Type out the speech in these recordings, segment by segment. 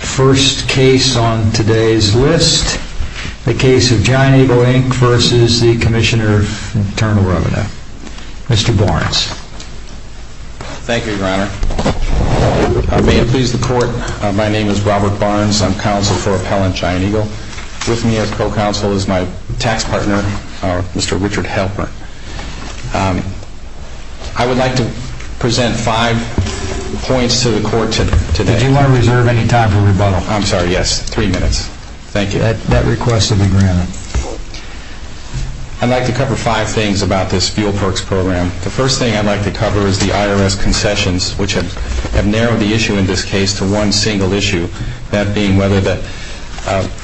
First case on today's list, the case of Giant Eagle Inc v. Comm IRS. Mr. Barnes. Thank you, your honor. May it please the court, my name is Robert Barnes, I'm counsel for Appellant Giant Eagle. With me as co-counsel is my tax partner, Mr. Richard Halpern. I would like to present five points to the court today. Do you want to reserve any time for rebuttal? I'm sorry, yes, three minutes. Thank you. That request will be granted. I'd like to cover five things about this fuel perks program. The first thing I'd like to cover is the IRS concessions, which have narrowed the issue in this case to one single issue, that being whether the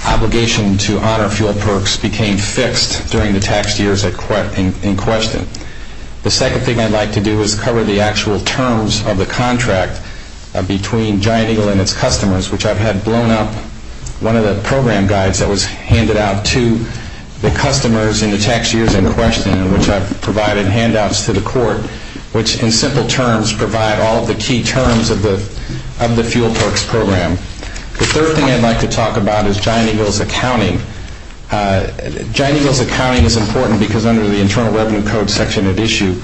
obligation to honor fuel perks became fixed during the taxed years in question. The second thing I'd like to do is cover the actual terms of the contract between Giant Eagle and its customers, which I've had blown up. One of the program guides that was handed out to the customers in the tax years in question, which I've provided handouts to the court, which in simple terms provide all of the key terms of the fuel perks program. The third thing I'd like to talk about is Giant Eagle's accounting. Giant Eagle's accounting is important because under the Internal Revenue Code section of issue,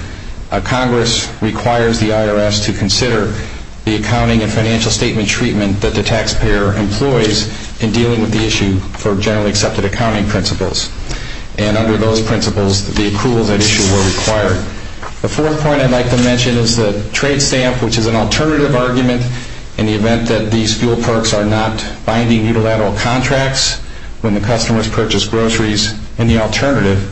Congress requires the IRS to consider the accounting and financial statement treatment that the taxpayer employs in dealing with the issue for generally accepted accounting principles. And under those principles, the accruals at issue were required. The fourth point I'd like to mention is the trade stamp, which is an alternative argument in the event that these fuel perks are not binding unilateral contracts. When the customers purchase groceries in the alternative,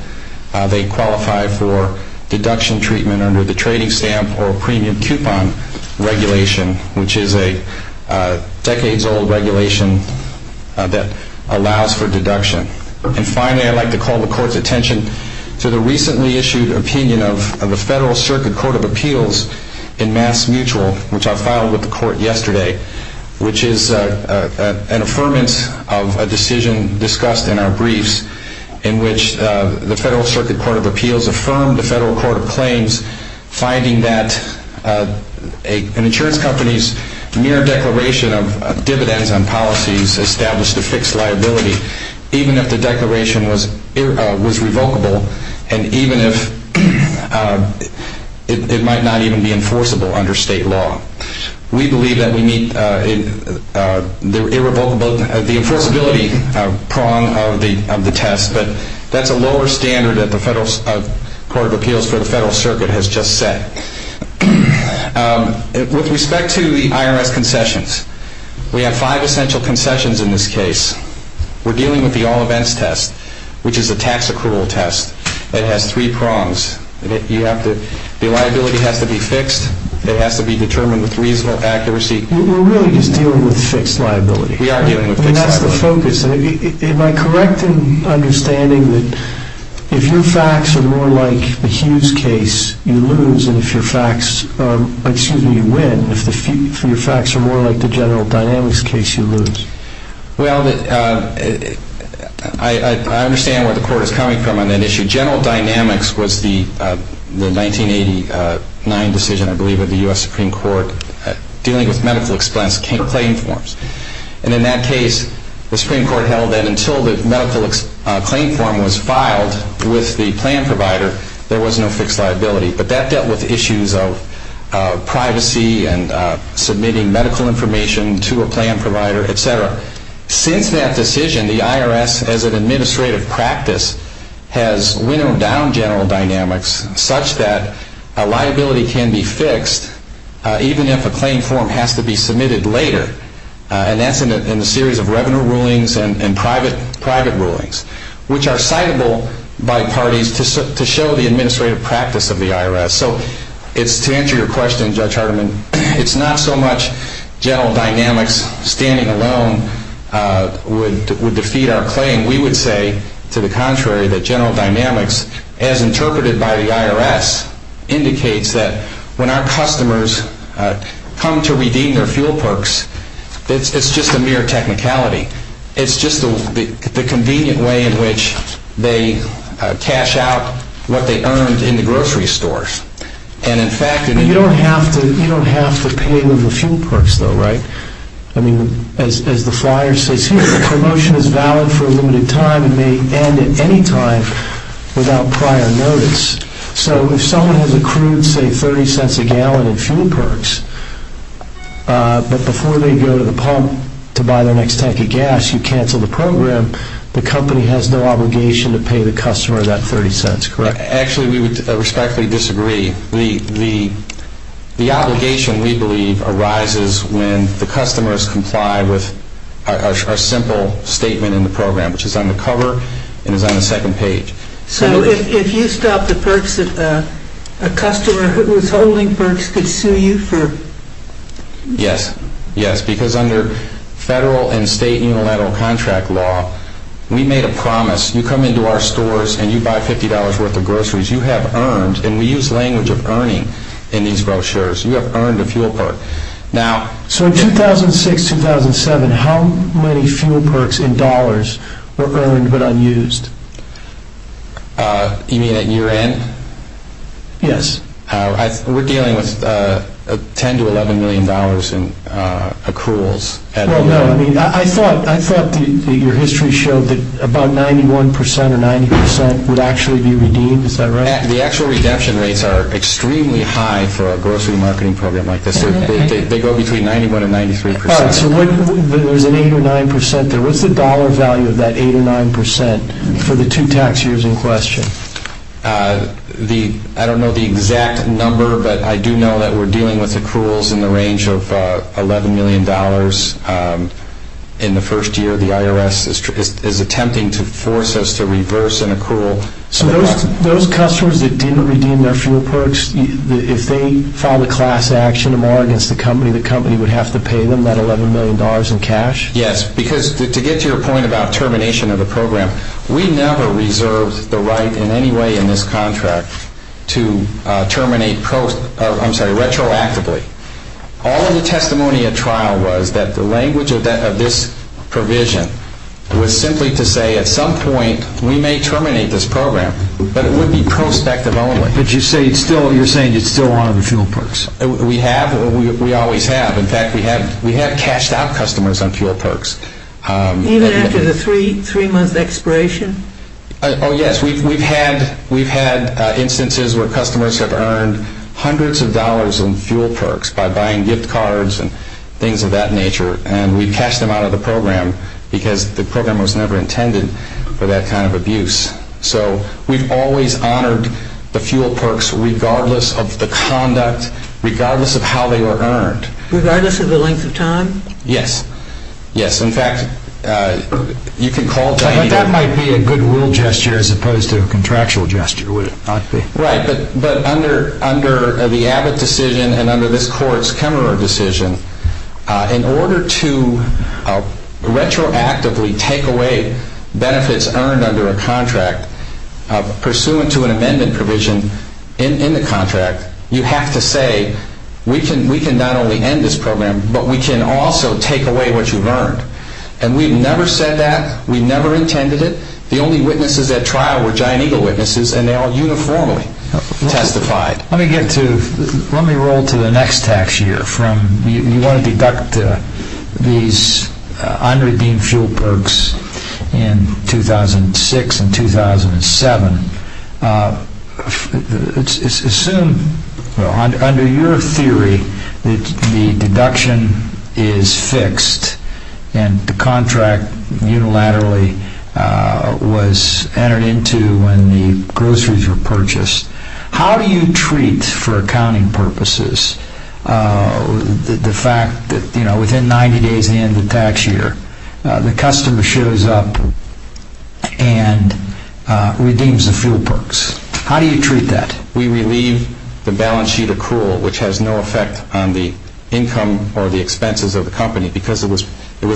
they qualify for deduction treatment under the trading stamp or premium coupon regulation, which is a decades-old regulation that allows for deduction. And finally, I'd like to call the court's attention to the recently-issued opinion of the Federal Circuit Court of Appeals in Mass Mutual, which I filed with the court yesterday, which is an affirmance of a decision discussed in our briefs in which the Federal Circuit Court of Appeals affirmed the Federal Court of Claims, finding that an insurance company's mere declaration of dividends on policies established a fixed liability. Even if the declaration was revocable and even if it might not even be enforceable under state law. We believe that we meet the enforceability prong of the test, but that's a lower standard that the Federal Court of Appeals for the Federal Circuit has just set. With respect to the IRS concessions, we have five essential concessions in this case. We're dealing with the all-events test, which is a tax accrual test. It has three prongs. The liability has to be fixed. It has to be determined with reasonable accuracy. We're really just dealing with fixed liability. That's the focus. Am I correct in understanding that if your facts are more like the Hughes case, you lose, and if your facts are more like the General Dynamics case, you lose? Well, I understand where the Court is coming from on that issue. General Dynamics was the 1989 decision, I believe, of the U.S. Supreme Court dealing with medical expense claim forms. And in that case, the Supreme Court held that until the medical claim form was filed with the plan provider, there was no fixed liability. But that dealt with issues of privacy and submitting medical information to a plan provider, etc. Since that decision, the IRS, as an administrative practice, has winnowed down General Dynamics such that a liability can be fixed even if a claim form has to be submitted later. And that's in a series of revenue rulings and private rulings, which are citable by parties to show the administrative practice of the IRS. So to answer your question, Judge Hardiman, it's not so much General Dynamics standing alone would defeat our claim. We would say, to the contrary, that General Dynamics, as interpreted by the IRS, indicates that when our customers come to redeem their fuel perks, it's just a mere technicality. It's just the convenient way in which they cash out what they earned in the grocery stores. And, in fact, in the... the company has no obligation to pay the customer that $0.30, correct? Actually, we would respectfully disagree. The obligation, we believe, arises when the customer has complied with our simple statement in the program, which is on the cover and is on the second page. So if you stopped the perks that a customer who was holding perks could sue you for... Yes. Yes. Because under federal and state unilateral contract law, we made a promise, you come into our stores and you buy $50 worth of groceries, you have earned, and we use language of earning in these brochures, you have earned a fuel perk. So in 2006-2007, how many fuel perks in dollars were earned but unused? You mean at year end? Yes. We're dealing with $10 to $11 million in accruals. Well, no. I mean, I thought your history showed that about 91% or 90% would actually be redeemed. Is that right? The actual redemption rates are extremely high for a grocery marketing program like this. They go between 91% and 93%. All right. So there's an 8% or 9% there. What's the dollar value of that 8% or 9% for the two tax years in question? I don't know the exact number, but I do know that we're dealing with accruals in the range of $11 million. In the first year, the IRS is attempting to force us to reverse an accrual. So those customers that didn't redeem their fuel perks, if they filed a class action against the company, the company would have to pay them that $11 million in cash? Yes, because to get to your point about termination of the program, we never reserved the right in any way in this contract to terminate retroactively. All of the testimony at trial was that the language of this provision was simply to say at some point we may terminate this program, but it would be prospective only. But you're saying it's still one of the fuel perks? We have. We always have. In fact, we have cashed out customers on fuel perks. Even after the three-month expiration? Oh, yes. We've had instances where customers have earned hundreds of dollars on fuel perks by buying gift cards and things of that nature, and we've cashed them out of the program because the program was never intended for that kind of abuse. So we've always honored the fuel perks regardless of the conduct, regardless of how they were earned. Regardless of the length of time? Yes. Yes. In fact, you can call it that. But that might be a goodwill gesture as opposed to a contractual gesture, would it not be? Right. But under the Abbott decision and under this Court's Kemmerer decision, in order to retroactively take away benefits earned under a contract pursuant to an amendment provision in the contract, you have to say we can not only end this program, but we can also take away what you've earned. And we've never said that. We've never intended it. The only witnesses at trial were Giant Eagle witnesses, and they all uniformly testified. Let me roll to the next tax year. You want to deduct these unredeemed fuel perks in 2006 and 2007. Assume, under your theory, that the deduction is fixed and the contract unilaterally was entered into when the groceries were purchased. How do you treat, for accounting purposes, the fact that within 90 days of the end of the tax year, the customer shows up and redeems the fuel perks? How do you treat that? We relieve the balance sheet accrual, which has no effect on the income or the expenses of the company because it was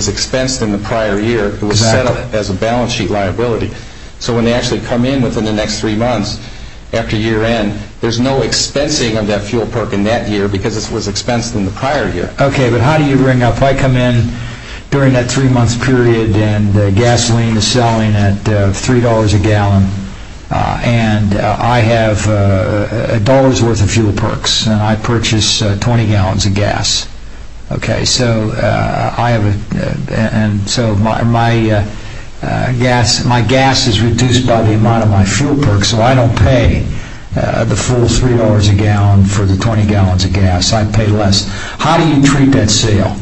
expensed in the prior year. Exactly. So when they actually come in within the next three months after year end, there's no expensing of that fuel perk in that year because it was expensed in the prior year. I come in during that three month period and gasoline is selling at $3 a gallon, and I have a dollar's worth of fuel perks, and I purchase 20 gallons of gas. My gas is reduced by the amount of my fuel perks, so I don't pay the full $3 a gallon for the 20 gallons of gas. How do you treat that sale?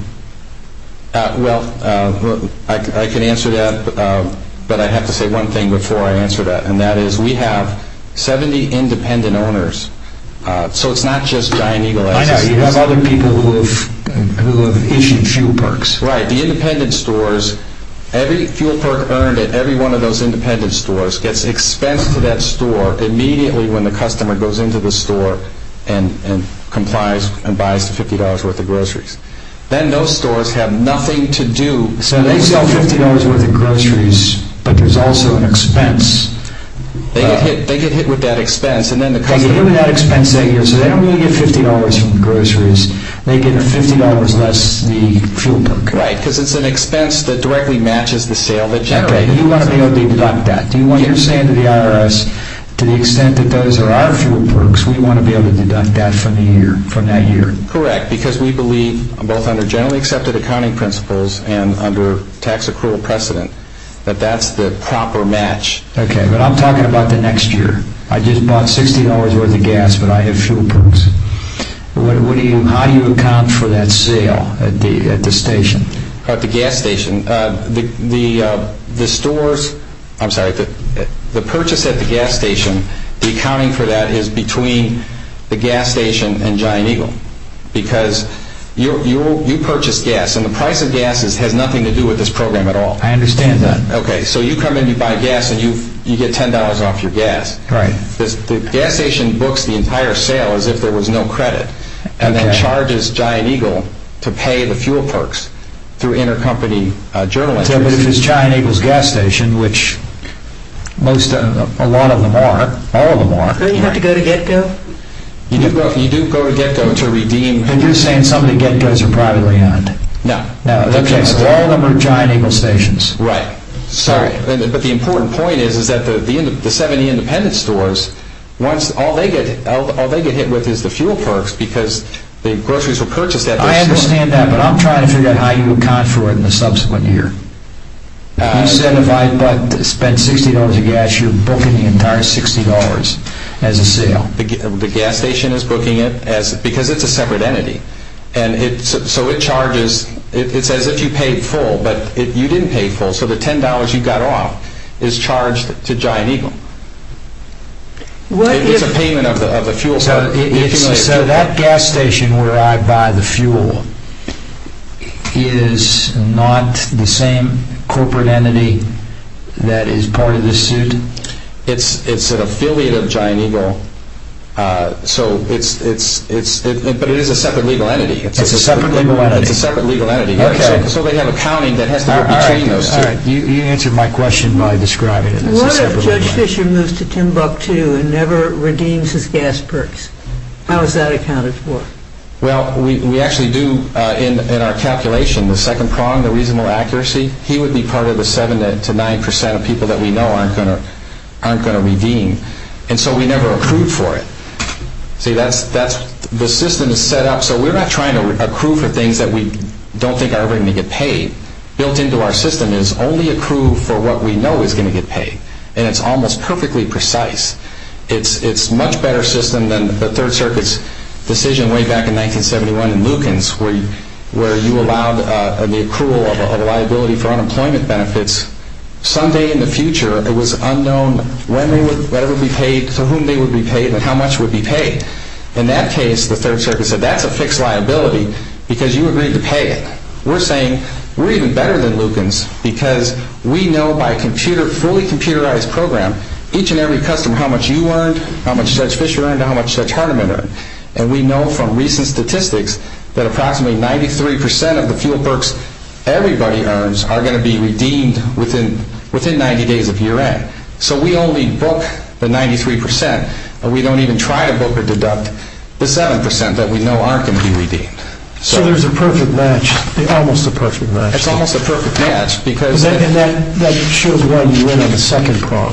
I can answer that, but I have to say one thing before I answer that, and that is we have 70 independent owners, so it's not just Giant Eagle. I know. You have other people who have issued fuel perks. Right. The independent stores, every fuel perk earned at every one of those independent stores gets expensed to that store immediately when the customer goes into the store and complies and buys the $50 worth of groceries. Then those stores have nothing to do. So they sell $50 worth of groceries, but there's also an expense. They get hit with that expense. They get hit with that expense every year, so they don't really get $50 from the groceries. They get $50 less the fuel perk. Right, because it's an expense that directly matches the sale that generated. Do you want to be able to deduct that? Do you understand the IRS, to the extent that those are our fuel perks, we want to be able to deduct that from that year? Correct, because we believe, both under generally accepted accounting principles and under tax accrual precedent, that that's the proper match. Okay, but I'm talking about the next year. I just bought $60 worth of gas, but I have fuel perks. How do you account for that sale at the station? At the gas station, the purchase at the gas station, the accounting for that is between the gas station and Giant Eagle, because you purchase gas, and the price of gas has nothing to do with this program at all. I understand that. Okay, so you come in, you buy gas, and you get $10 off your gas. The gas station books the entire sale as if there was no credit, and then charges Giant Eagle to pay the fuel perks through intercompany journal entries. But if it's Giant Eagle's gas station, which a lot of them are, all of them are. Don't you have to go to Getco? You do go to Getco to redeem. Are you saying some of the Getcos are privately owned? No. All of them are Giant Eagle stations. Right. Sorry. But the important point is that the 70 independent stores, all they get hit with is the fuel perks because the groceries were purchased at those stores. I understand that, but I'm trying to figure out how you account for it in the subsequent year. You said if I spent $60 of gas, you're booking the entire $60 as a sale. The gas station is booking it because it's a separate entity. So it charges, it's as if you paid full, but you didn't pay full, so the $10 you got off is charged to Giant Eagle. It's a payment of the fuel perks. So that gas station where I buy the fuel is not the same corporate entity that is part of this suit? It's an affiliate of Giant Eagle, but it is a separate legal entity. It's a separate legal entity. It's a separate legal entity. Okay. So they have accounting that has to go between those two. All right. You answered my question by describing it as a separate legal entity. What if Judge Fisher moves to Timbuktu and never redeems his gas perks? How is that accounted for? Well, we actually do in our calculation, the second prong, the reasonable accuracy, he would be part of the 7% to 9% of people that we know aren't going to redeem. And so we never accrue for it. See, the system is set up so we're not trying to accrue for things that we don't think are ever going to get paid. Built into our system is only accrue for what we know is going to get paid. And it's almost perfectly precise. It's a much better system than the Third Circuit's decision way back in 1971 in Lukens where you allowed the accrual of a liability for unemployment benefits. Someday in the future, it was unknown when they would be paid, to whom they would be paid, and how much would be paid. In that case, the Third Circuit said that's a fixed liability because you agreed to pay it. We're saying we're even better than Lukens because we know by a fully computerized program, each and every customer, how much you earned, how much Judge Fisher earned, how much Judge Hardiman earned. And we know from recent statistics that approximately 93% of the fuel perks everybody earns are going to be redeemed within 90 days of year end. So we only book the 93%, and we don't even try to book or deduct the 7% that we know aren't going to be redeemed. So there's a perfect match, almost a perfect match. It's almost a perfect match because... And that shows why you win on the second prong.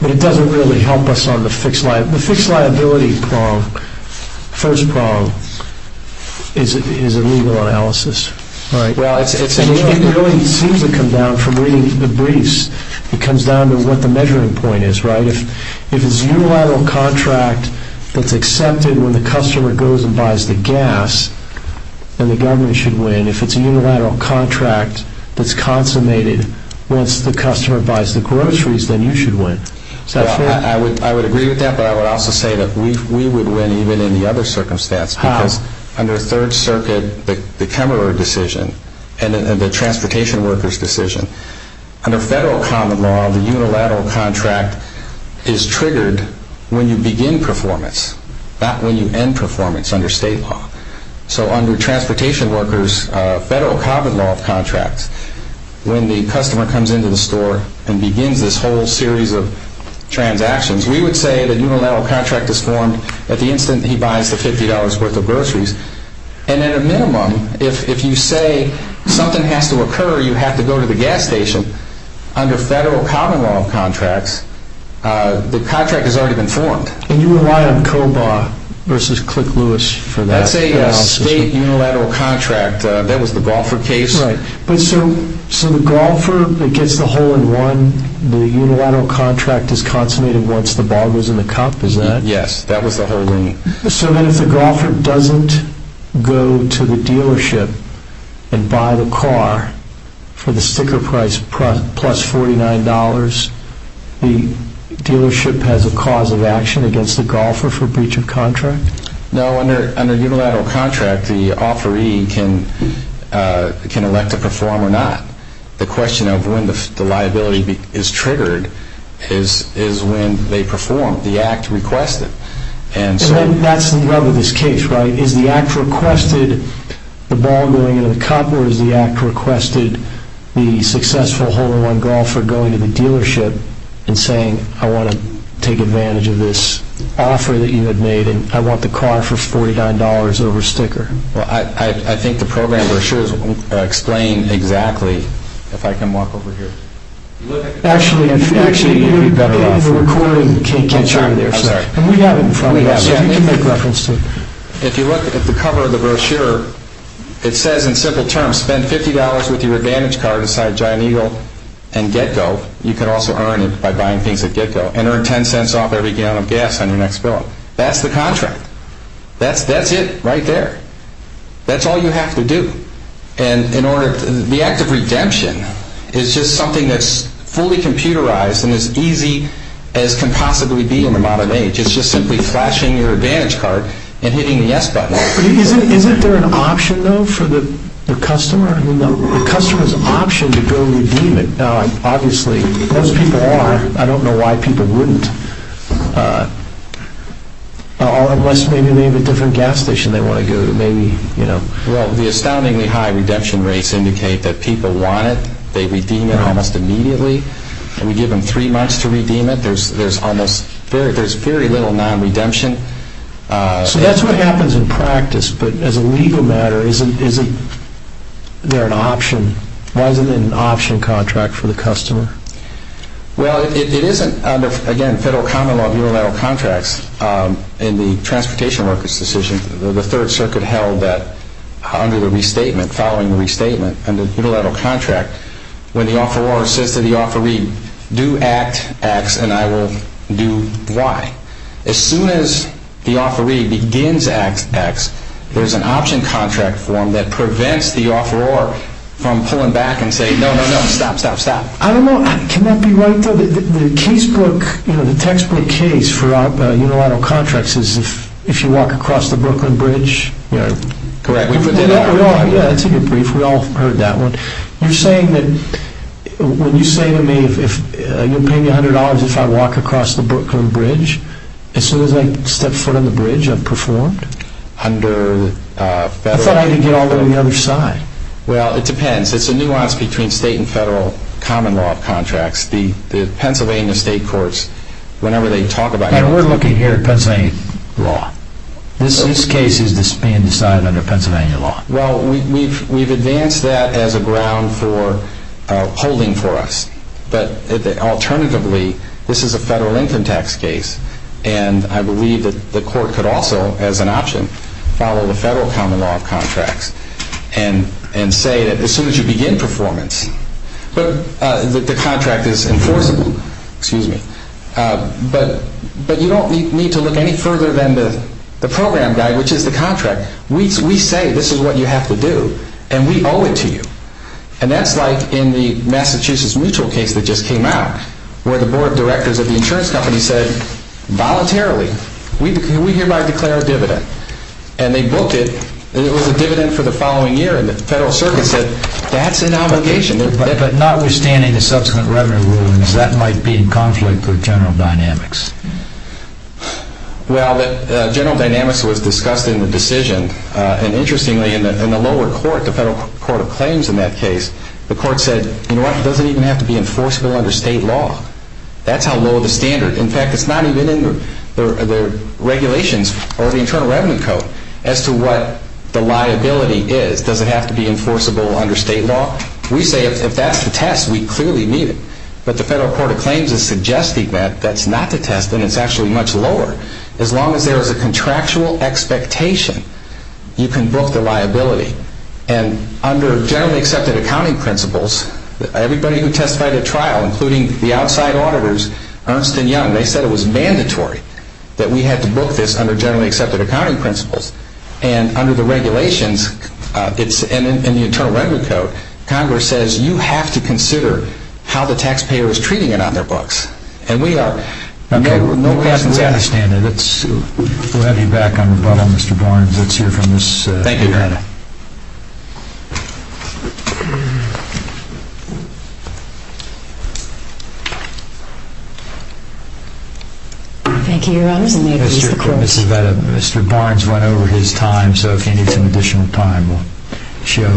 But it doesn't really help us on the fixed liability prong. The fixed liability prong, first prong, is a legal analysis, right? Well, it's a... And it really seems to come down from reading the briefs. It comes down to what the measuring point is, right? If it's a unilateral contract that's accepted when the customer goes and buys the gas, then the government should win. If it's a unilateral contract that's consummated once the customer buys the groceries, then you should win. Is that fair? I would agree with that, but I would also say that we would win even in the other circumstance. How? Because under Third Circuit, the Kemmerer decision and the transportation workers decision, under federal common law, the unilateral contract is triggered when you begin performance, not when you end performance under state law. So under transportation workers, federal common law of contracts, when the customer comes into the store and begins this whole series of transactions, we would say the unilateral contract is formed at the instant he buys the $50 worth of groceries. And at a minimum, if you say something has to occur, you have to go to the gas station, under federal common law of contracts, the contract has already been formed. And you rely on COBA versus Click Lewis for that analysis? That's a state unilateral contract. That was the Golfer case. Right. So the Golfer gets the hole-in-one, the unilateral contract is consummated once the ball goes in the cup, is that it? Yes, that was the hole-in-one. So then if the Golfer doesn't go to the dealership and buy the car for the sticker price plus $49, the dealership has a cause of action against the Golfer for breach of contract? No, under unilateral contract, the offeree can elect to perform or not. The question of when the liability is triggered is when they perform, the act requested. And that's the rub of this case, right? Is the act requested the ball going into the cup or is the act requested the successful hole-in-one Golfer going to the dealership and saying I want to take advantage of this offer that you had made and I want the car for $49 over sticker? Well, I think the program brochures explain exactly, if I can walk over here. Actually, you're better off recording. I'm sorry. We have it in front of us. If you look at the cover of the brochure, it says in simple terms spend $50 with your advantage card aside Giant Eagle and get-go. You can also earn it by buying things at get-go and earn $0.10 off every gallon of gas on your next fill-up. That's the contract. That's it right there. That's all you have to do. The act of redemption is just something that's fully computerized and as easy as can possibly be in the modern age. It's just simply flashing your advantage card and hitting the yes button. Isn't there an option, though, for the customer? The customer has an option to go redeem it. Now, obviously, most people are. I don't know why people wouldn't unless maybe they have a different gas station they want to go to. Well, the astoundingly high redemption rates indicate that people want it. They redeem it almost immediately. We give them three months to redeem it. There's very little non-redemption. So that's what happens in practice, but as a legal matter, isn't there an option? Why isn't it an option contract for the customer? Well, it isn't under, again, federal common law of unilateral contracts. In the Transportation Workers' Decision, the Third Circuit held that under the restatement, following the restatement, under the unilateral contract, when the offeror says to the offeree, do Act X and I will do Y. As soon as the offeree begins Act X, there's an option contract form that prevents the offeror from pulling back and saying, no, no, no, stop, stop, stop. I don't know. Can that be right, though? The textbook case for unilateral contracts is if you walk across the Brooklyn Bridge. Correct. Yeah, that's a good brief. We all heard that one. You're saying that when you say to me you'll pay me $100 if I walk across the Brooklyn Bridge, as soon as I step foot on the bridge, I'm performed? Under federal… I thought I could get all the way to the other side. Well, it depends. It's a nuance between state and federal common law of contracts. The Pennsylvania state courts, whenever they talk about… We're looking here at Pennsylvania law. This case is being decided under Pennsylvania law. Well, we've advanced that as a ground for holding for us. But alternatively, this is a federal income tax case, and I believe that the court could also, as an option, follow the federal common law of contracts and say that as soon as you begin performance, the contract is enforceable. But you don't need to look any further than the program guide, which is the contract. We say this is what you have to do, and we owe it to you. And that's like in the Massachusetts mutual case that just came out, where the board of directors of the insurance company said, We hereby declare a dividend. And they booked it, and it was a dividend for the following year. And the federal circuit said, that's an obligation. But notwithstanding the subsequent revenue rulings, that might be in conflict with general dynamics. Well, general dynamics was discussed in the decision. And interestingly, in the lower court, the federal court of claims in that case, the court said, you know what, it doesn't even have to be enforceable under state law. That's how low the standard… In fact, it's not even in the regulations or the Internal Revenue Code as to what the liability is. Does it have to be enforceable under state law? We say if that's the test, we clearly need it. But the federal court of claims is suggesting that that's not the test, and it's actually much lower. As long as there is a contractual expectation, you can book the liability. And under generally accepted accounting principles, everybody who testified at trial, including the outside auditors, Ernst and Young, they said it was mandatory that we had to book this under generally accepted accounting principles. And under the regulations, and in the Internal Revenue Code, Congress says you have to consider how the taxpayer is treating it on their books. And we are. Okay. No questions asked. We understand that. We'll have you back on rebuttal, Mr. Barnes. Let's hear from this… Thank you, Your Honor. Mr. Barnes went over his time, so if he needs some additional time, we'll show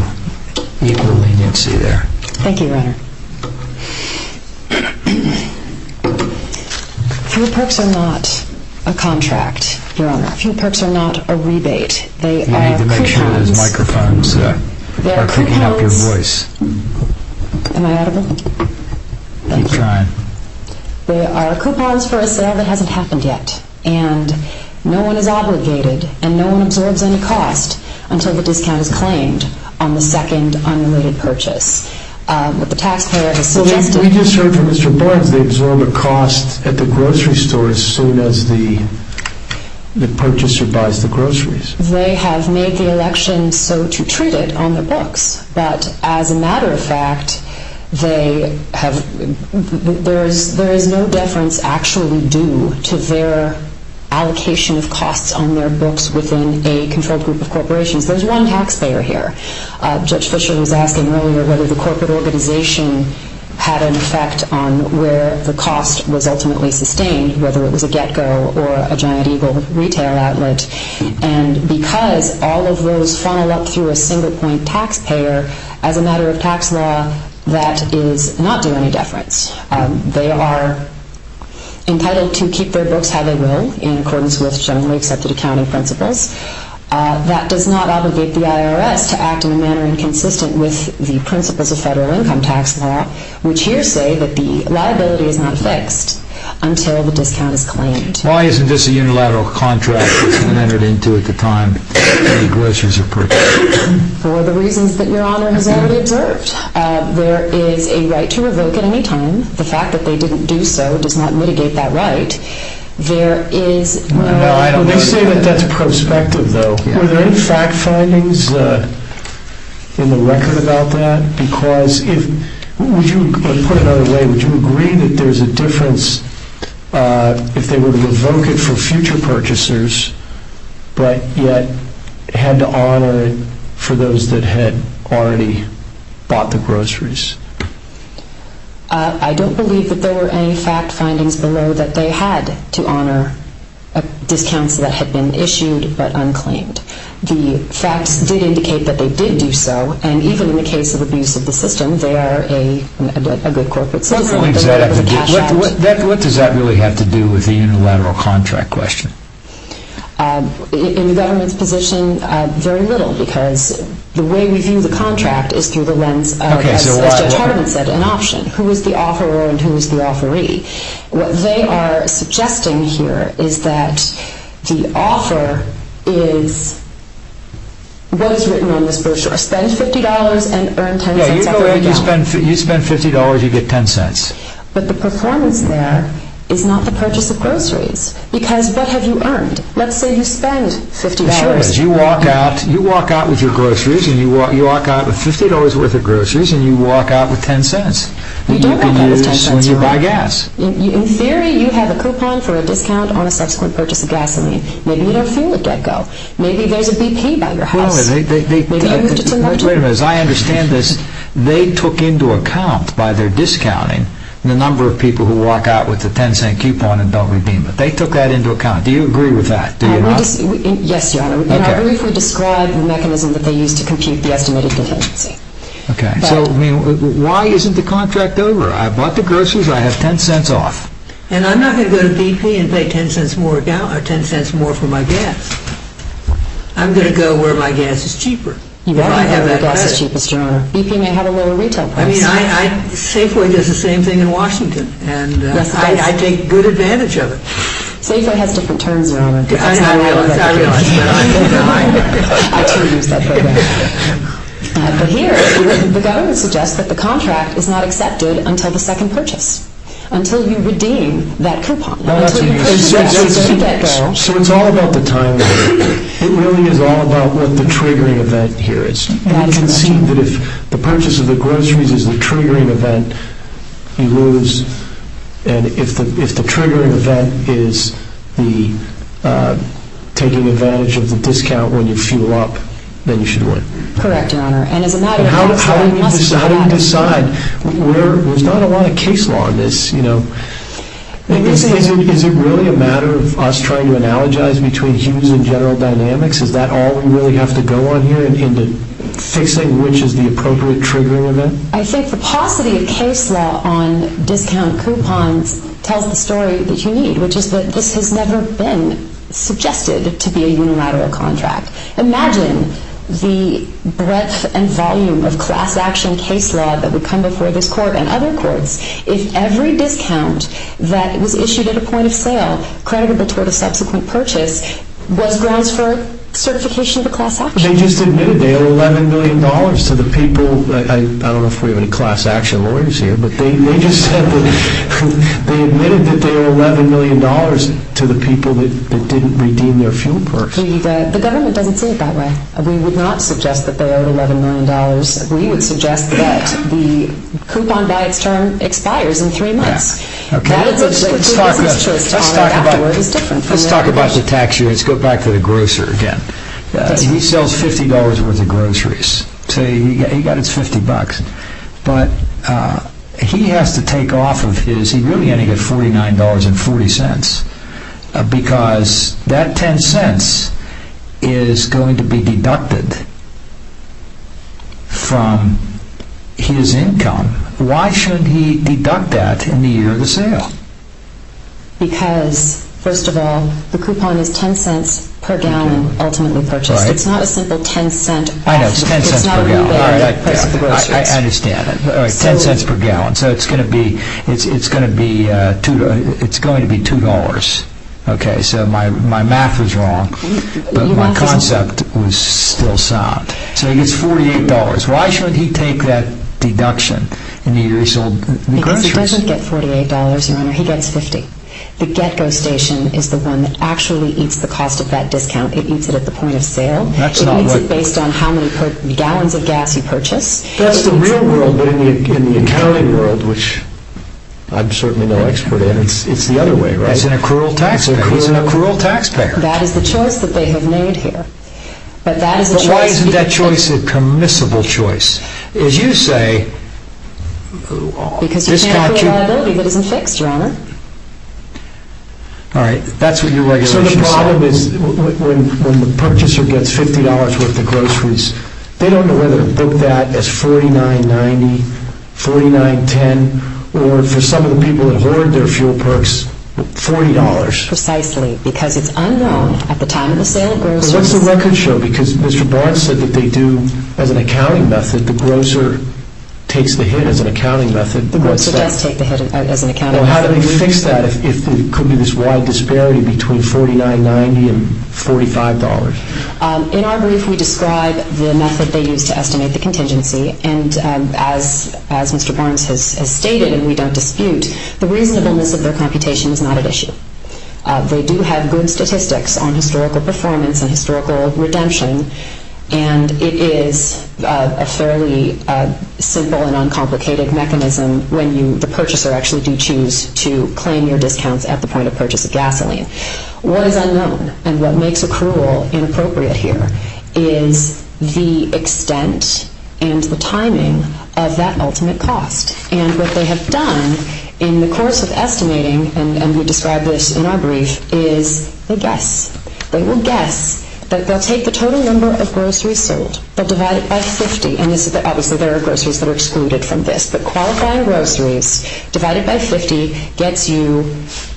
equal leniency there. Thank you, Your Honor. Food Perks are not a contract, Your Honor. Food Perks are not a rebate. They are compounds… You need to make sure those microphones are picking up your voice. They are compounds… Am I audible? Keep trying. They are coupons for a sale that hasn't happened yet. And no one is obligated and no one absorbs any cost until the discount is claimed on the second unrelated purchase. What the taxpayer has suggested… We just heard from Mr. Barnes they absorb a cost at the grocery store as soon as the purchaser buys the groceries. They have made the election so to treat it on their books. But as a matter of fact, there is no deference actually due to their allocation of costs on their books within a controlled group of corporations. There's one taxpayer here. Judge Fischer was asking earlier whether the corporate organization had an effect on where the cost was ultimately sustained, whether it was a get-go or a Giant Eagle retail outlet. And because all of those funnel up through a single point taxpayer, as a matter of tax law, that does not do any deference. They are entitled to keep their books how they will in accordance with generally accepted accounting principles. That does not obligate the IRS to act in a manner inconsistent with the principles of federal income tax law, which hearsay that the liability is not fixed until the discount is claimed. Why isn't this a unilateral contract as it was entered into at the time? For the reasons that Your Honor has already observed. There is a right to revoke at any time. The fact that they didn't do so does not mitigate that right. They say that's prospective though. Were there any fact findings in the record about that? Put another way, would you agree that there's a difference if they were to revoke it for future purchasers but yet had to honor it for those that had already bought the groceries? I don't believe that there were any fact findings below that they had to honor discounts that had been issued but unclaimed. The facts did indicate that they did do so and even in the case of abuse of the system, they are a good corporate system. What does that really have to do with the unilateral contract question? In the government's position, very little because the way we view the contract is through the lens of an option. Who is the offeror and who is the offeree? What they are suggesting here is that the offer is what is written on this brochure. Spend $50 and earn $0.10. You spend $50, you get $0.10. But the performance there is not the purchase of groceries because what have you earned? Let's say you spend $50. You walk out with your groceries and you walk out with $50 worth of groceries and you walk out with $0.10. You don't have that as time transfer. In theory, you have a coupon for a discount on a subsequent purchase of gasoline. Maybe you don't feel a dead go. Maybe there is a BP by your house. As I understand this, they took into account by their discounting the number of people who walk out with a $0.10 coupon and don't redeem it. They took that into account. Do you agree with that? Yes, Your Honor. I believe we described the mechanism that they used to compute the estimated contingency. Why isn't the contract over? I bought the groceries. I have $0.10 off. I'm not going to go to BP and pay $0.10 more for my gas. I'm going to go where my gas is cheaper. BP may have a lower retail price. Safeway does the same thing in Washington. I take good advantage of it. Safeway has different terms, Your Honor. I realize that. I, too, use that program. But here, the government suggests that the contract is not accepted until the second purchase, until you redeem that coupon. So it's all about the timing. It really is all about what the triggering event here is. It can seem that if the purchase of the groceries is the triggering event, you lose. If the triggering event is taking advantage of the discount when you fuel up, then you should win. Correct, Your Honor. How do you decide? There's not a lot of case law in this. Is it really a matter of us trying to analogize between Hughes and General Dynamics? Is that all we really have to go on here in fixing which is the appropriate triggering event? I think the paucity of case law on discount coupons tells the story that you need, which is that this has never been suggested to be a unilateral contract. Imagine the breadth and volume of class action case law that would come before this court and other courts if every discount that was issued at a point of sale, creditable toward a subsequent purchase, was grounds for certification of a class action. They just admitted they owe $11 million to the people. I don't know if we have any class action lawyers here, but they just admitted that they owe $11 million to the people that didn't redeem their fuel purse. The government doesn't see it that way. We would not suggest that they owe $11 million. We would suggest that the coupon by its term expires in three months. Let's talk about the tax year. Let's go back to the grocer again. He sells $50 worth of groceries, so he got his $50. But he really only gets $49.40 because that $0.10 is going to be deducted from his income. Why should he deduct that in the year of the sale? Because, first of all, the coupon is $0.10 per gallon, ultimately purchased. It's not a simple $0.10. I know, it's $0.10 per gallon. I understand. $0.10 per gallon, so it's going to be $2. Okay, so my math was wrong, but my concept was still sound. So he gets $48.00. Why should he take that deduction in the year he sold the groceries? Because he doesn't get $48.00, Your Honor. He gets $50.00. The get-go station is the one that actually eats the cost of that discount. It eats it at the point of sale. It eats it based on how many gallons of gas you purchase. That's the real world, but in the accounting world, which I'm certainly no expert in, it's the other way around. He's an accrual taxpayer. That is the choice that they have made here. But why isn't that choice a commissible choice? As you say... Because you can't prove a liability that isn't fixed, Your Honor. All right, that's what your regulation says. So the problem is when the purchaser gets $50.00 worth of groceries, they don't know whether to book that as $49.90, $49.10, or for some of the people that hoard their fuel perks, $40.00. Precisely, because it's unknown at the time of the sale of groceries. What's the record show? Because Mr. Barnes said that they do, as an accounting method, the grocer takes the hit as an accounting method. The grocer does take the hit as an accounting method. How do they fix that if there could be this wide disparity between $49.90 and $45.00? In our brief, we describe the method they use to estimate the contingency, and as Mr. Barnes has stated, and we don't dispute, the reasonableness of their computation is not at issue. They do have good statistics on historical performance and historical redemption, and it is a fairly simple and uncomplicated mechanism when the purchaser actually do choose to claim your discounts at the point of purchase of gasoline. What is unknown, and what makes accrual inappropriate here, is the extent and the timing of that ultimate cost. And what they have done in the course of estimating, and we describe this in our brief, is they guess. They will guess that they'll take the total number of groceries sold, they'll divide it by 50, and obviously there are groceries that are excluded from this, but qualifying groceries divided by 50 gets you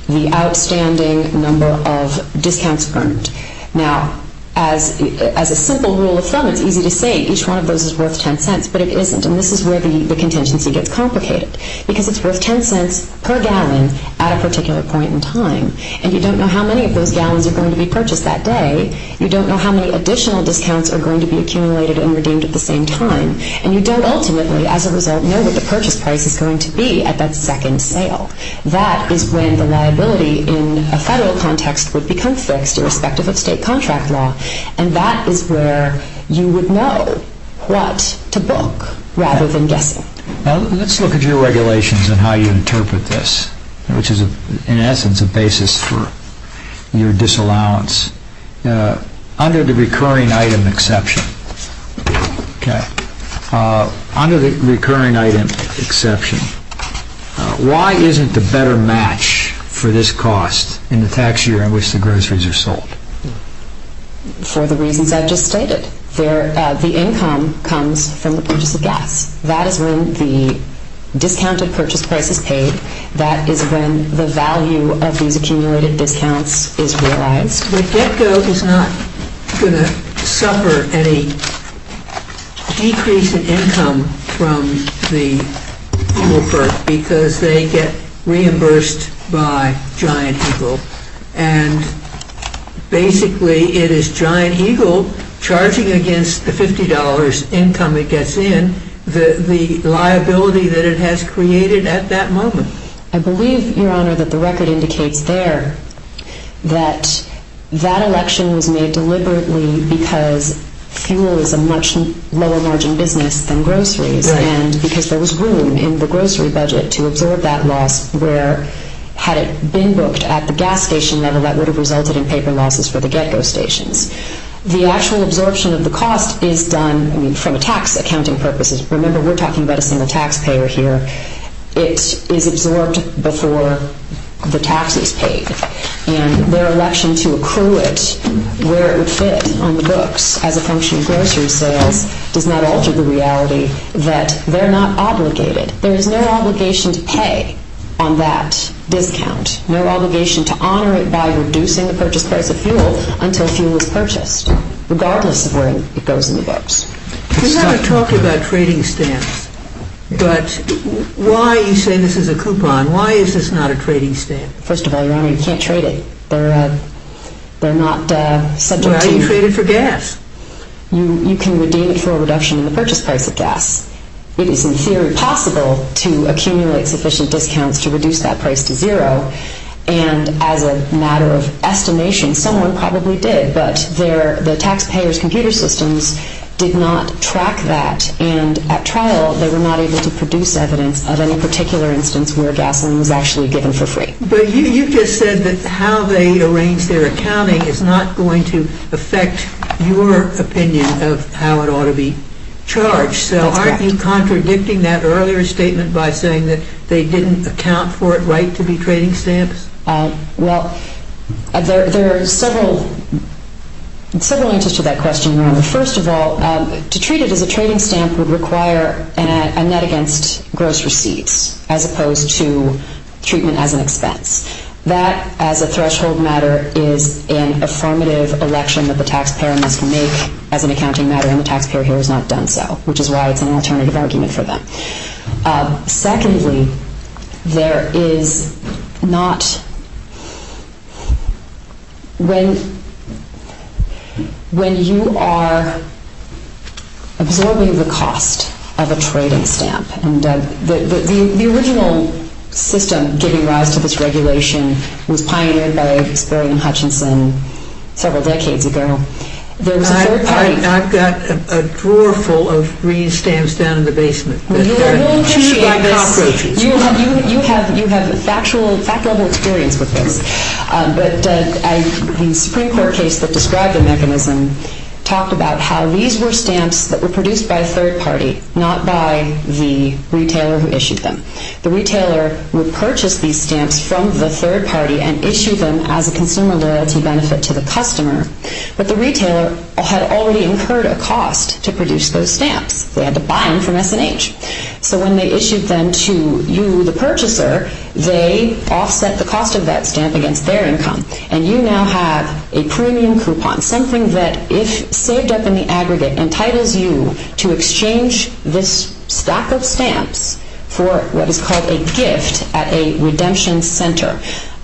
the outstanding number of discounts earned. Now, as a simple rule of thumb, it's easy to say each one of those is worth $0.10, but it isn't, and this is where the contingency gets complicated, because it's worth $0.10 per gallon at a particular point in time, and you don't know how many of those gallons are going to be purchased that day, you don't know how many additional discounts are going to be accumulated and redeemed at the same time, and you don't ultimately, as a result, know what the purchase price is going to be at that second sale. That is when the liability in a federal context would become fixed, irrespective of state contract law, and that is where you would know what to book, rather than guessing. Let's look at your regulations and how you interpret this, which is, in essence, a basis for your disallowance. Under the recurring item exception, Okay. Under the recurring item exception, why isn't the better match for this cost in the tax year in which the groceries are sold? For the reasons I've just stated. The income comes from the purchase of gas. That is when the discounted purchase price is paid. That is when the value of these accumulated discounts is realized. But GetGo is not going to suffer any decrease in income from the Uber because they get reimbursed by Giant Eagle, and basically it is Giant Eagle charging against the $50 income it gets in, the liability that it has created at that moment. I believe, Your Honor, that the record indicates there that that election was made deliberately because fuel is a much lower margin business than groceries, and because there was room in the grocery budget to absorb that loss where, had it been booked at the gas station level, that would have resulted in paper losses for the GetGo stations. The actual absorption of the cost is done from a tax accounting purpose. Remember, we're talking about a single taxpayer here. It is absorbed before the tax is paid, and their election to accrue it where it would fit on the books as a function of grocery sales does not alter the reality that they're not obligated. There is no obligation to pay on that discount, no obligation to honor it by reducing the purchase price of fuel until fuel is purchased, regardless of where it goes in the books. We're going to talk about trading stamps, but why are you saying this is a coupon? Why is this not a trading stamp? First of all, Your Honor, you can't trade it. They're not subject to... Well, you trade it for gas. You can redeem it for a reduction in the purchase price of gas. It is, in theory, possible to accumulate sufficient discounts to reduce that price to zero, and as a matter of estimation, someone probably did, but the taxpayers' computer systems did not track that, and at trial they were not able to produce evidence of any particular instance where gasoline was actually given for free. But you just said that how they arrange their accounting is not going to affect your opinion of how it ought to be charged. That's correct. So aren't you contradicting that earlier statement by saying that they didn't account for it right to be trading stamps? Well, there are several answers to that question, Your Honor. First of all, to treat it as a trading stamp would require a net against gross receipts as opposed to treatment as an expense. That, as a threshold matter, is an affirmative election that the taxpayer must make as an accounting matter, and the taxpayer here has not done so, which is why it's an alternative argument for them. Secondly, there is not... When you are absorbing the cost of a trading stamp, and the original system giving rise to this regulation was pioneered by Spurgeon Hutchinson several decades ago, there was a third party... You have factual experience with this, but the Supreme Court case that described the mechanism talked about how these were stamps that were produced by a third party, not by the retailer who issued them. The retailer would purchase these stamps from the third party and issue them as a consumer loyalty benefit to the customer, because they had to buy them from S&H. So when they issued them to you, the purchaser, they offset the cost of that stamp against their income, and you now have a premium coupon, something that, if saved up in the aggregate, entitles you to exchange this stack of stamps for what is called a gift at a redemption center.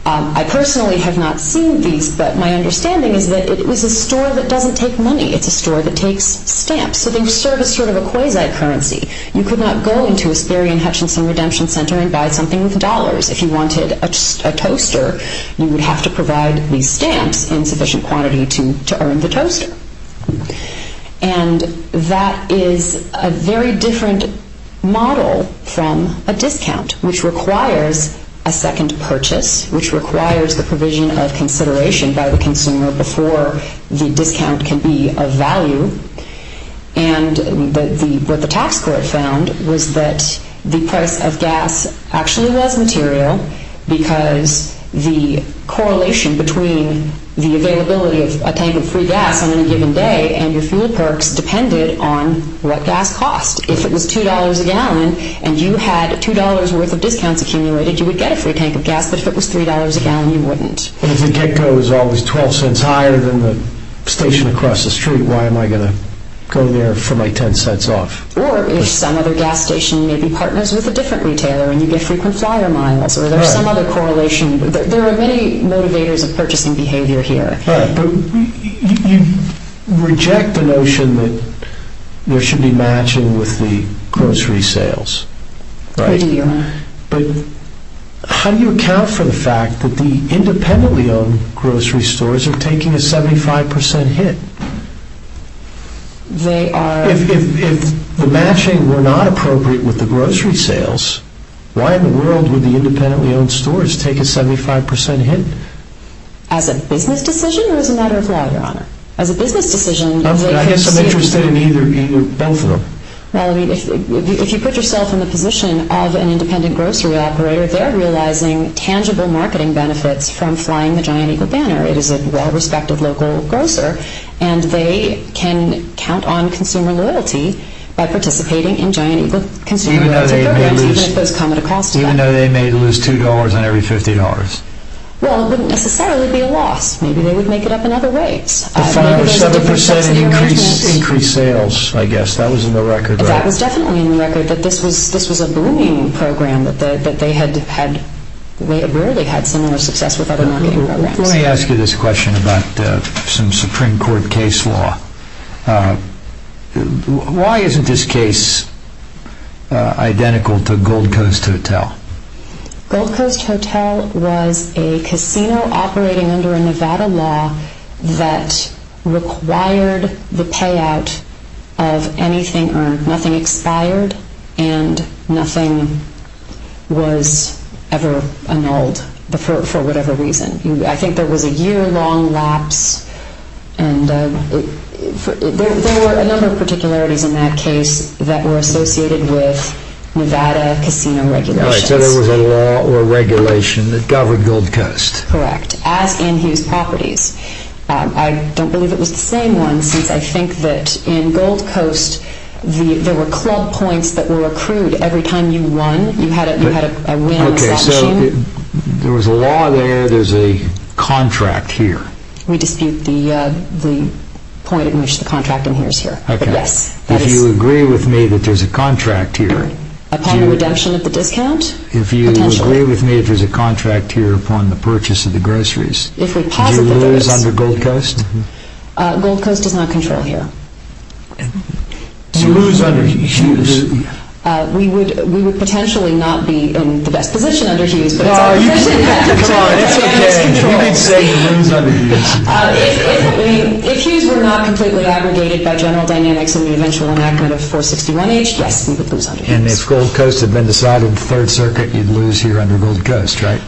I personally have not seen these, but my understanding is that it was a store that doesn't take money. It's a store that takes stamps. So they serve as sort of a quasi-currency. You could not go into a Spurgeon Hutchinson redemption center and buy something with dollars. If you wanted a toaster, you would have to provide these stamps in sufficient quantity to earn the toaster. And that is a very different model from a discount, which requires a second purchase, which requires the provision of consideration by the consumer before the discount can be of value. And what the tax court found was that the price of gas actually was material, because the correlation between the availability of a tank of free gas on any given day and your fuel perks depended on what gas cost. If it was $2 a gallon, and you had $2 worth of discounts accumulated, you would get a free tank of gas, but if it was $3 a gallon, you wouldn't. And if the get-go is always $0.12 higher than the station across the street, why am I going to go there for my $0.10 off? Or if some other gas station maybe partners with a different retailer and you get frequent flyer miles, or there's some other correlation. There are many motivators of purchasing behavior here. But you reject the notion that there should be matching with the grocery sales. We do. But how do you account for the fact that the independently owned grocery stores are taking a 75% hit? They are... If the matching were not appropriate with the grocery sales, why in the world would the independently owned stores take a 75% hit? As a business decision or as a matter of law, Your Honor? As a business decision... I guess I'm interested in either, both of them. Well, I mean, if you put yourself in the position of an independent grocery operator, they're realizing tangible marketing benefits from flying the Giant Eagle banner. It is a well-respected local grocer, and they can count on consumer loyalty by participating in Giant Eagle consumer loyalty programs, even if those come at a cost to them. Even though they may lose $2 on every $50? Well, it wouldn't necessarily be a loss. Maybe they would make it up in other ways. The final 7% increase in sales, I guess. That was in the record, right? That was definitely in the record, that this was a booming program, that they had rarely had similar success with other marketing programs. Let me ask you this question about some Supreme Court case law. Why isn't this case identical to Gold Coast Hotel? Gold Coast Hotel was a casino operating under a Nevada law that required the payout of anything earned. And nothing was ever annulled for whatever reason. I think there was a year-long lapse. There were a number of particularities in that case that were associated with Nevada casino regulations. So there was a law or regulation that governed Gold Coast. Correct, as in Hughes Properties. I don't believe it was the same one, since I think that in Gold Coast, there were club points that were accrued every time you won. You had a win. Okay, so there was a law there. There's a contract here. We dispute the point at which the contract inheres here. Okay. If you agree with me that there's a contract here. Upon redemption of the discount, potentially. If you agree with me that there's a contract here upon the purchase of the groceries. If we posit that there is. Is your law under Gold Coast? Gold Coast does not control here. So you lose under Hughes. We would potentially not be in the best position under Hughes. Come on, it's okay. You may say you lose under Hughes. If Hughes were not completely aggregated by General Dynamics in the eventual enactment of 461H, yes, we would lose under Hughes. And if Gold Coast had been decided in the Third Circuit, you'd lose here under Gold Coast, right?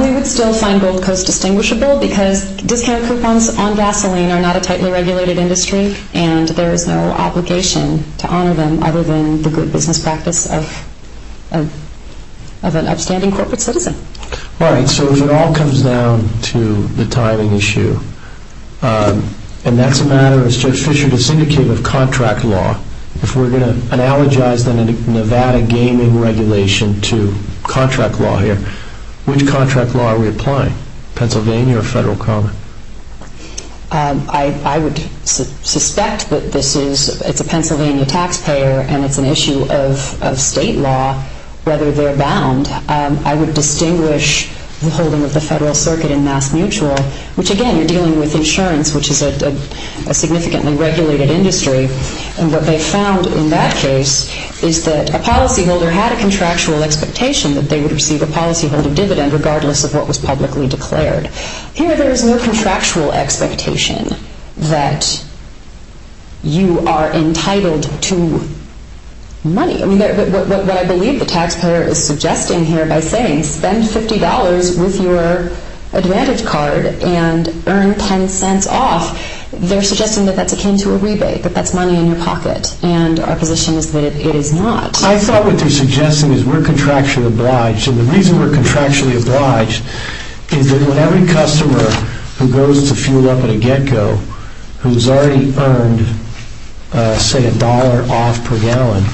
We would still find Gold Coast distinguishable because discount coupons on gasoline are not a tightly regulated industry and there is no obligation to honor them other than the good business practice of an upstanding corporate citizen. All right, so if it all comes down to the timing issue, and that's a matter, as Judge Fischer just indicated, of contract law, if we're going to analogize the Nevada gaming regulation to contract law here, which contract law are we applying? Pennsylvania or Federal Common? I would suspect that this is, it's a Pennsylvania taxpayer and it's an issue of state law whether they're bound. I would distinguish the holding of the Federal Circuit in Mass Mutual, which again, you're dealing with insurance, which is a significantly regulated industry. And what they found in that case is that a policyholder had a contractual expectation that they would receive a policyholder dividend regardless of what was publicly declared. Here there is no contractual expectation that you are entitled to money. I mean, what I believe the taxpayer is suggesting here by saying, spend $50 with your advantage card and earn $0.10 off, they're suggesting that that's akin to a rebate, that that's money in your pocket. And our position is that it is not. I thought what they're suggesting is we're contractually obliged. And the reason we're contractually obliged is that when every customer who goes to fuel up at a get-go, who's already earned, say, $1 off per gallon,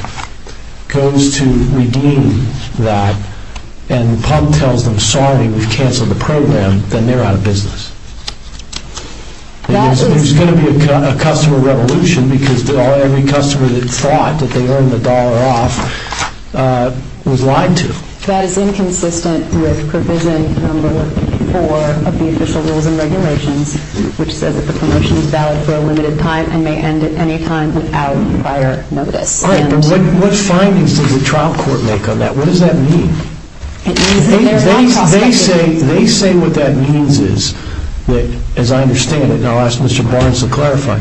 goes to redeem that and the pump tells them, sorry, we've canceled the program, then they're out of business. There's going to be a customer revolution because every customer that thought that they earned the dollar off was lied to. That is inconsistent with provision number four of the official rules and regulations, which says that the promotion is valid for a limited time and may end at any time without prior notice. All right, but what findings does the trial court make on that? What does that mean? It means that there is not a cost to anything. They say what that means is that, as I understand it, and I'll ask Mr. Barnes to clarify,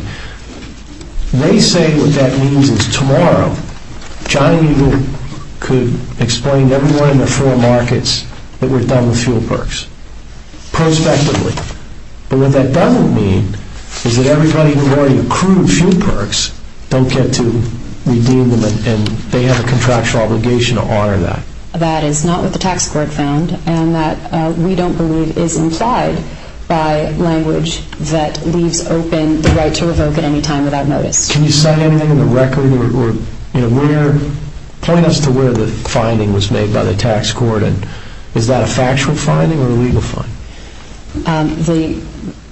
they say what that means is tomorrow Johnny Eagle could explain to everyone in the four markets that we're done with fuel perks prospectively. But what that doesn't mean is that everybody who already accrued fuel perks don't get to redeem them and they have a contractual obligation to honor that. That is not what the tax court found and that we don't believe is implied by language that leaves open the right to revoke at any time without notice. Can you cite anything in the record or point us to where the finding was made by the tax court? Is that a factual finding or a legal finding?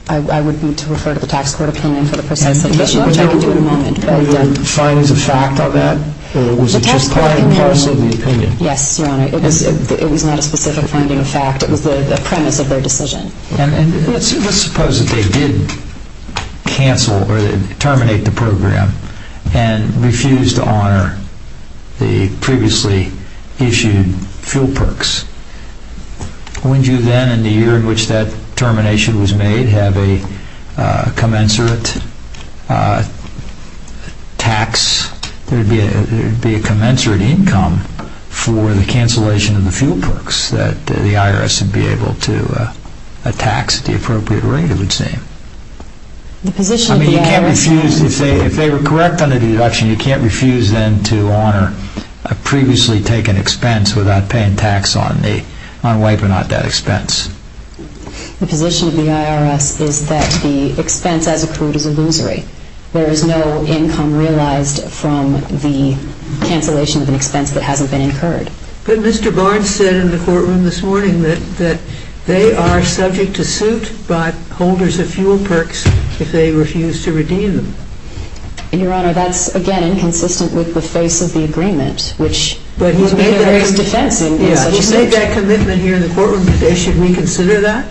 I would need to refer to the tax court opinion for the precise issue, which I can do in a moment. Were there findings of fact on that or was it just part and parcel of the opinion? Yes, Your Honor. It was not a specific finding of fact. It was the premise of their decision. Let's suppose that they did cancel or terminate the program and refused to honor the previously issued fuel perks. Wouldn't you then in the year in which that termination was made have a commensurate tax? There would be a commensurate income for the cancellation of the fuel perks that the IRS would be able to tax at the appropriate rate, it would seem. If they were correct on the deduction, you can't refuse then to honor a previously taken expense without paying tax on wiping out that expense. The position of the IRS is that the expense as accrued is illusory. There is no income realized from the cancellation of an expense that hasn't been incurred. But Mr. Barnes said in the courtroom this morning that they are subject to suit by holders of fuel perks if they refuse to redeem them. Your Honor, that's, again, inconsistent with the face of the agreement, which is what carries defense in such a situation. You say that commitment here in the courtroom, but should we consider that?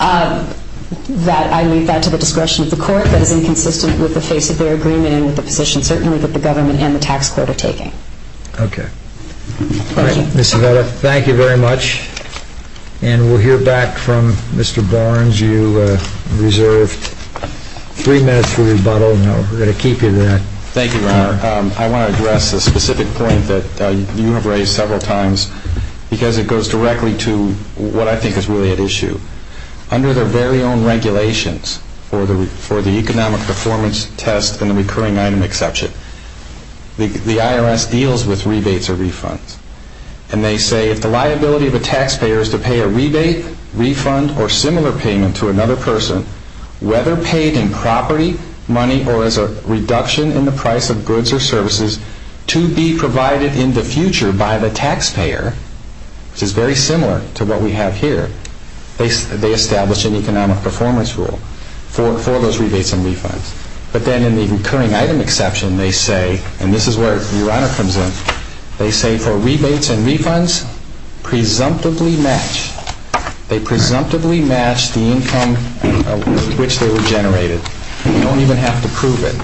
I leave that to the discretion of the court. That is inconsistent with the face of their agreement and with the position certainly that the government and the tax court are taking. Okay. All right, Mr. Vetter, thank you very much. And we'll hear back from Mr. Barnes. You reserve three minutes for rebuttal, and we're going to keep you there. Thank you, Your Honor. I want to address a specific point that you have raised several times because it goes directly to what I think is really at issue. Under their very own regulations for the economic performance test and the recurring item exception, the IRS deals with rebates or refunds. And they say if the liability of a taxpayer is to pay a rebate, refund, or similar payment to another person, whether paid in property, money, or as a reduction in the price of goods or services to be provided in the future by the taxpayer, which is very similar to what we have here, they establish an economic performance rule for those rebates and refunds. But then in the recurring item exception, they say, and this is where Your Honor comes in, they say for rebates and refunds, presumptively match. They presumptively match the income with which they were generated. You don't even have to prove it.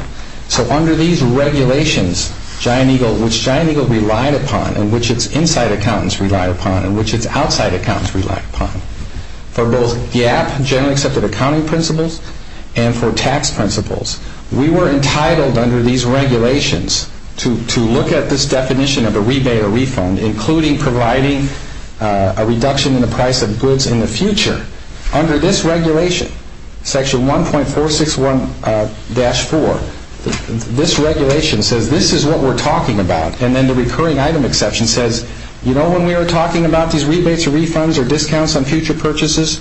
So under these regulations, which Giant Eagle relied upon and which its inside accountants relied upon and which its outside accountants relied upon, for both GAAP, generally accepted accounting principles, and for tax principles, we were entitled under these regulations to look at this definition of a rebate or refund, including providing a reduction in the price of goods in the future. Under this regulation, section 1.461-4, this regulation says this is what we're talking about. And then the recurring item exception says, you know when we were talking about these rebates or refunds or discounts on future purchases?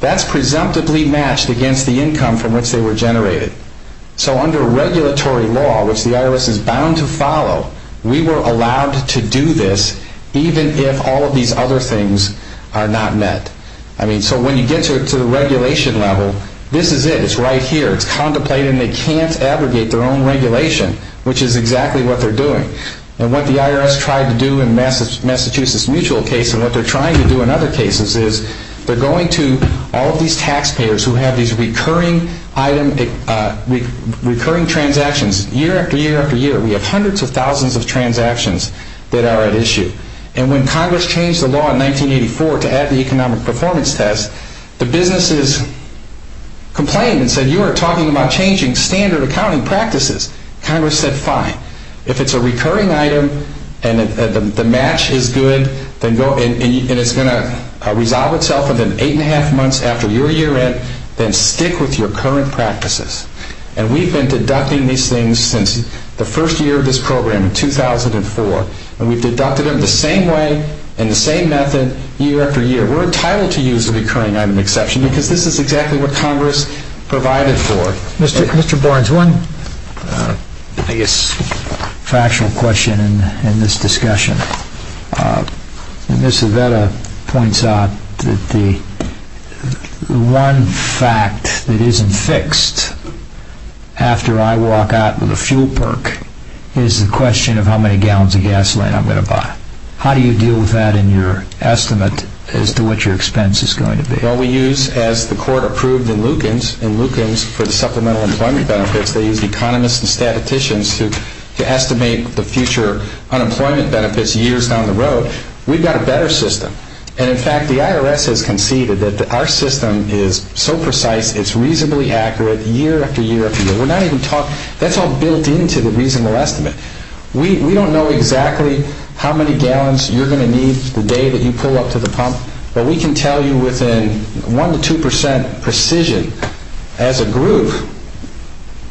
That's presumptively matched against the income from which they were generated. So under regulatory law, which the IRS is bound to follow, we were allowed to do this even if all of these other things are not met. So when you get to the regulation level, this is it. It's right here. It's contemplated and they can't abrogate their own regulation, which is exactly what they're doing. And what the IRS tried to do in Massachusetts Mutual case, and what they're trying to do in other cases, is they're going to all of these taxpayers who have these recurring transactions, year after year after year. We have hundreds of thousands of transactions that are at issue. And when Congress changed the law in 1984 to add the economic performance test, the businesses complained and said, you are talking about changing standard accounting practices. Congress said, fine. If it's a recurring item and the match is good and it's going to resolve itself within eight and a half months after your year end, then stick with your current practices. And we've been deducting these things since the first year of this program in 2004. And we've deducted them the same way and the same method year after year. We're entitled to use a recurring item exception because this is exactly what Congress provided for. Mr. Barnes, one, I guess, factual question in this discussion. Ms. Avetta points out that the one fact that isn't fixed after I walk out with a fuel perk is the question of how many gallons of gasoline I'm going to buy. How do you deal with that in your estimate as to what your expense is going to be? Well, we use, as the court approved in Lukens, in Lukens for the supplemental employment benefits, they used economists and statisticians to estimate the future unemployment benefits years down the road. We've got a better system. And, in fact, the IRS has conceded that our system is so precise, it's reasonably accurate year after year after year. That's all built into the reasonable estimate. We don't know exactly how many gallons you're going to need the day that you pull up to the pump, but we can tell you within 1% to 2% precision, as a group,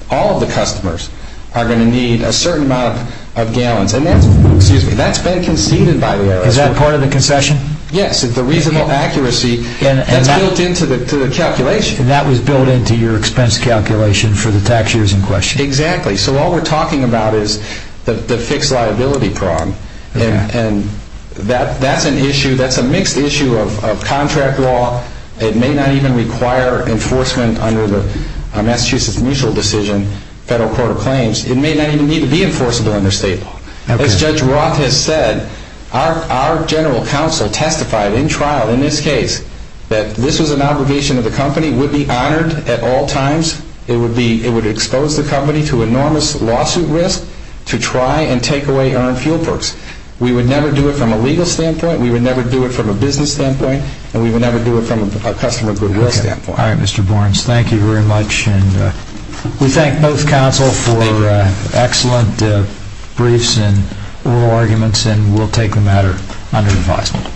all of the customers are going to need a certain amount of gallons. And that's been conceded by the IRS. Is that part of the concession? Yes. It's the reasonable accuracy that's built into the calculation. And that was built into your expense calculation for the tax years in question. Exactly. So all we're talking about is the fixed liability prong. And that's an issue, that's a mixed issue of contract law. It may not even require enforcement under the Massachusetts Mutual Decision, Federal Court of Claims. It may not even need to be enforceable under state law. As Judge Roth has said, our general counsel testified in trial in this case that this was an obligation of the company, would be honored at all times. It would expose the company to enormous lawsuit risk to try and take away earned fuel perks. We would never do it from a legal standpoint. We would never do it from a business standpoint. And we would never do it from a customer goodwill standpoint. All right, Mr. Borens. Thank you very much. And we thank both counsel for excellent briefs and oral arguments, and we'll take the matter under advisement.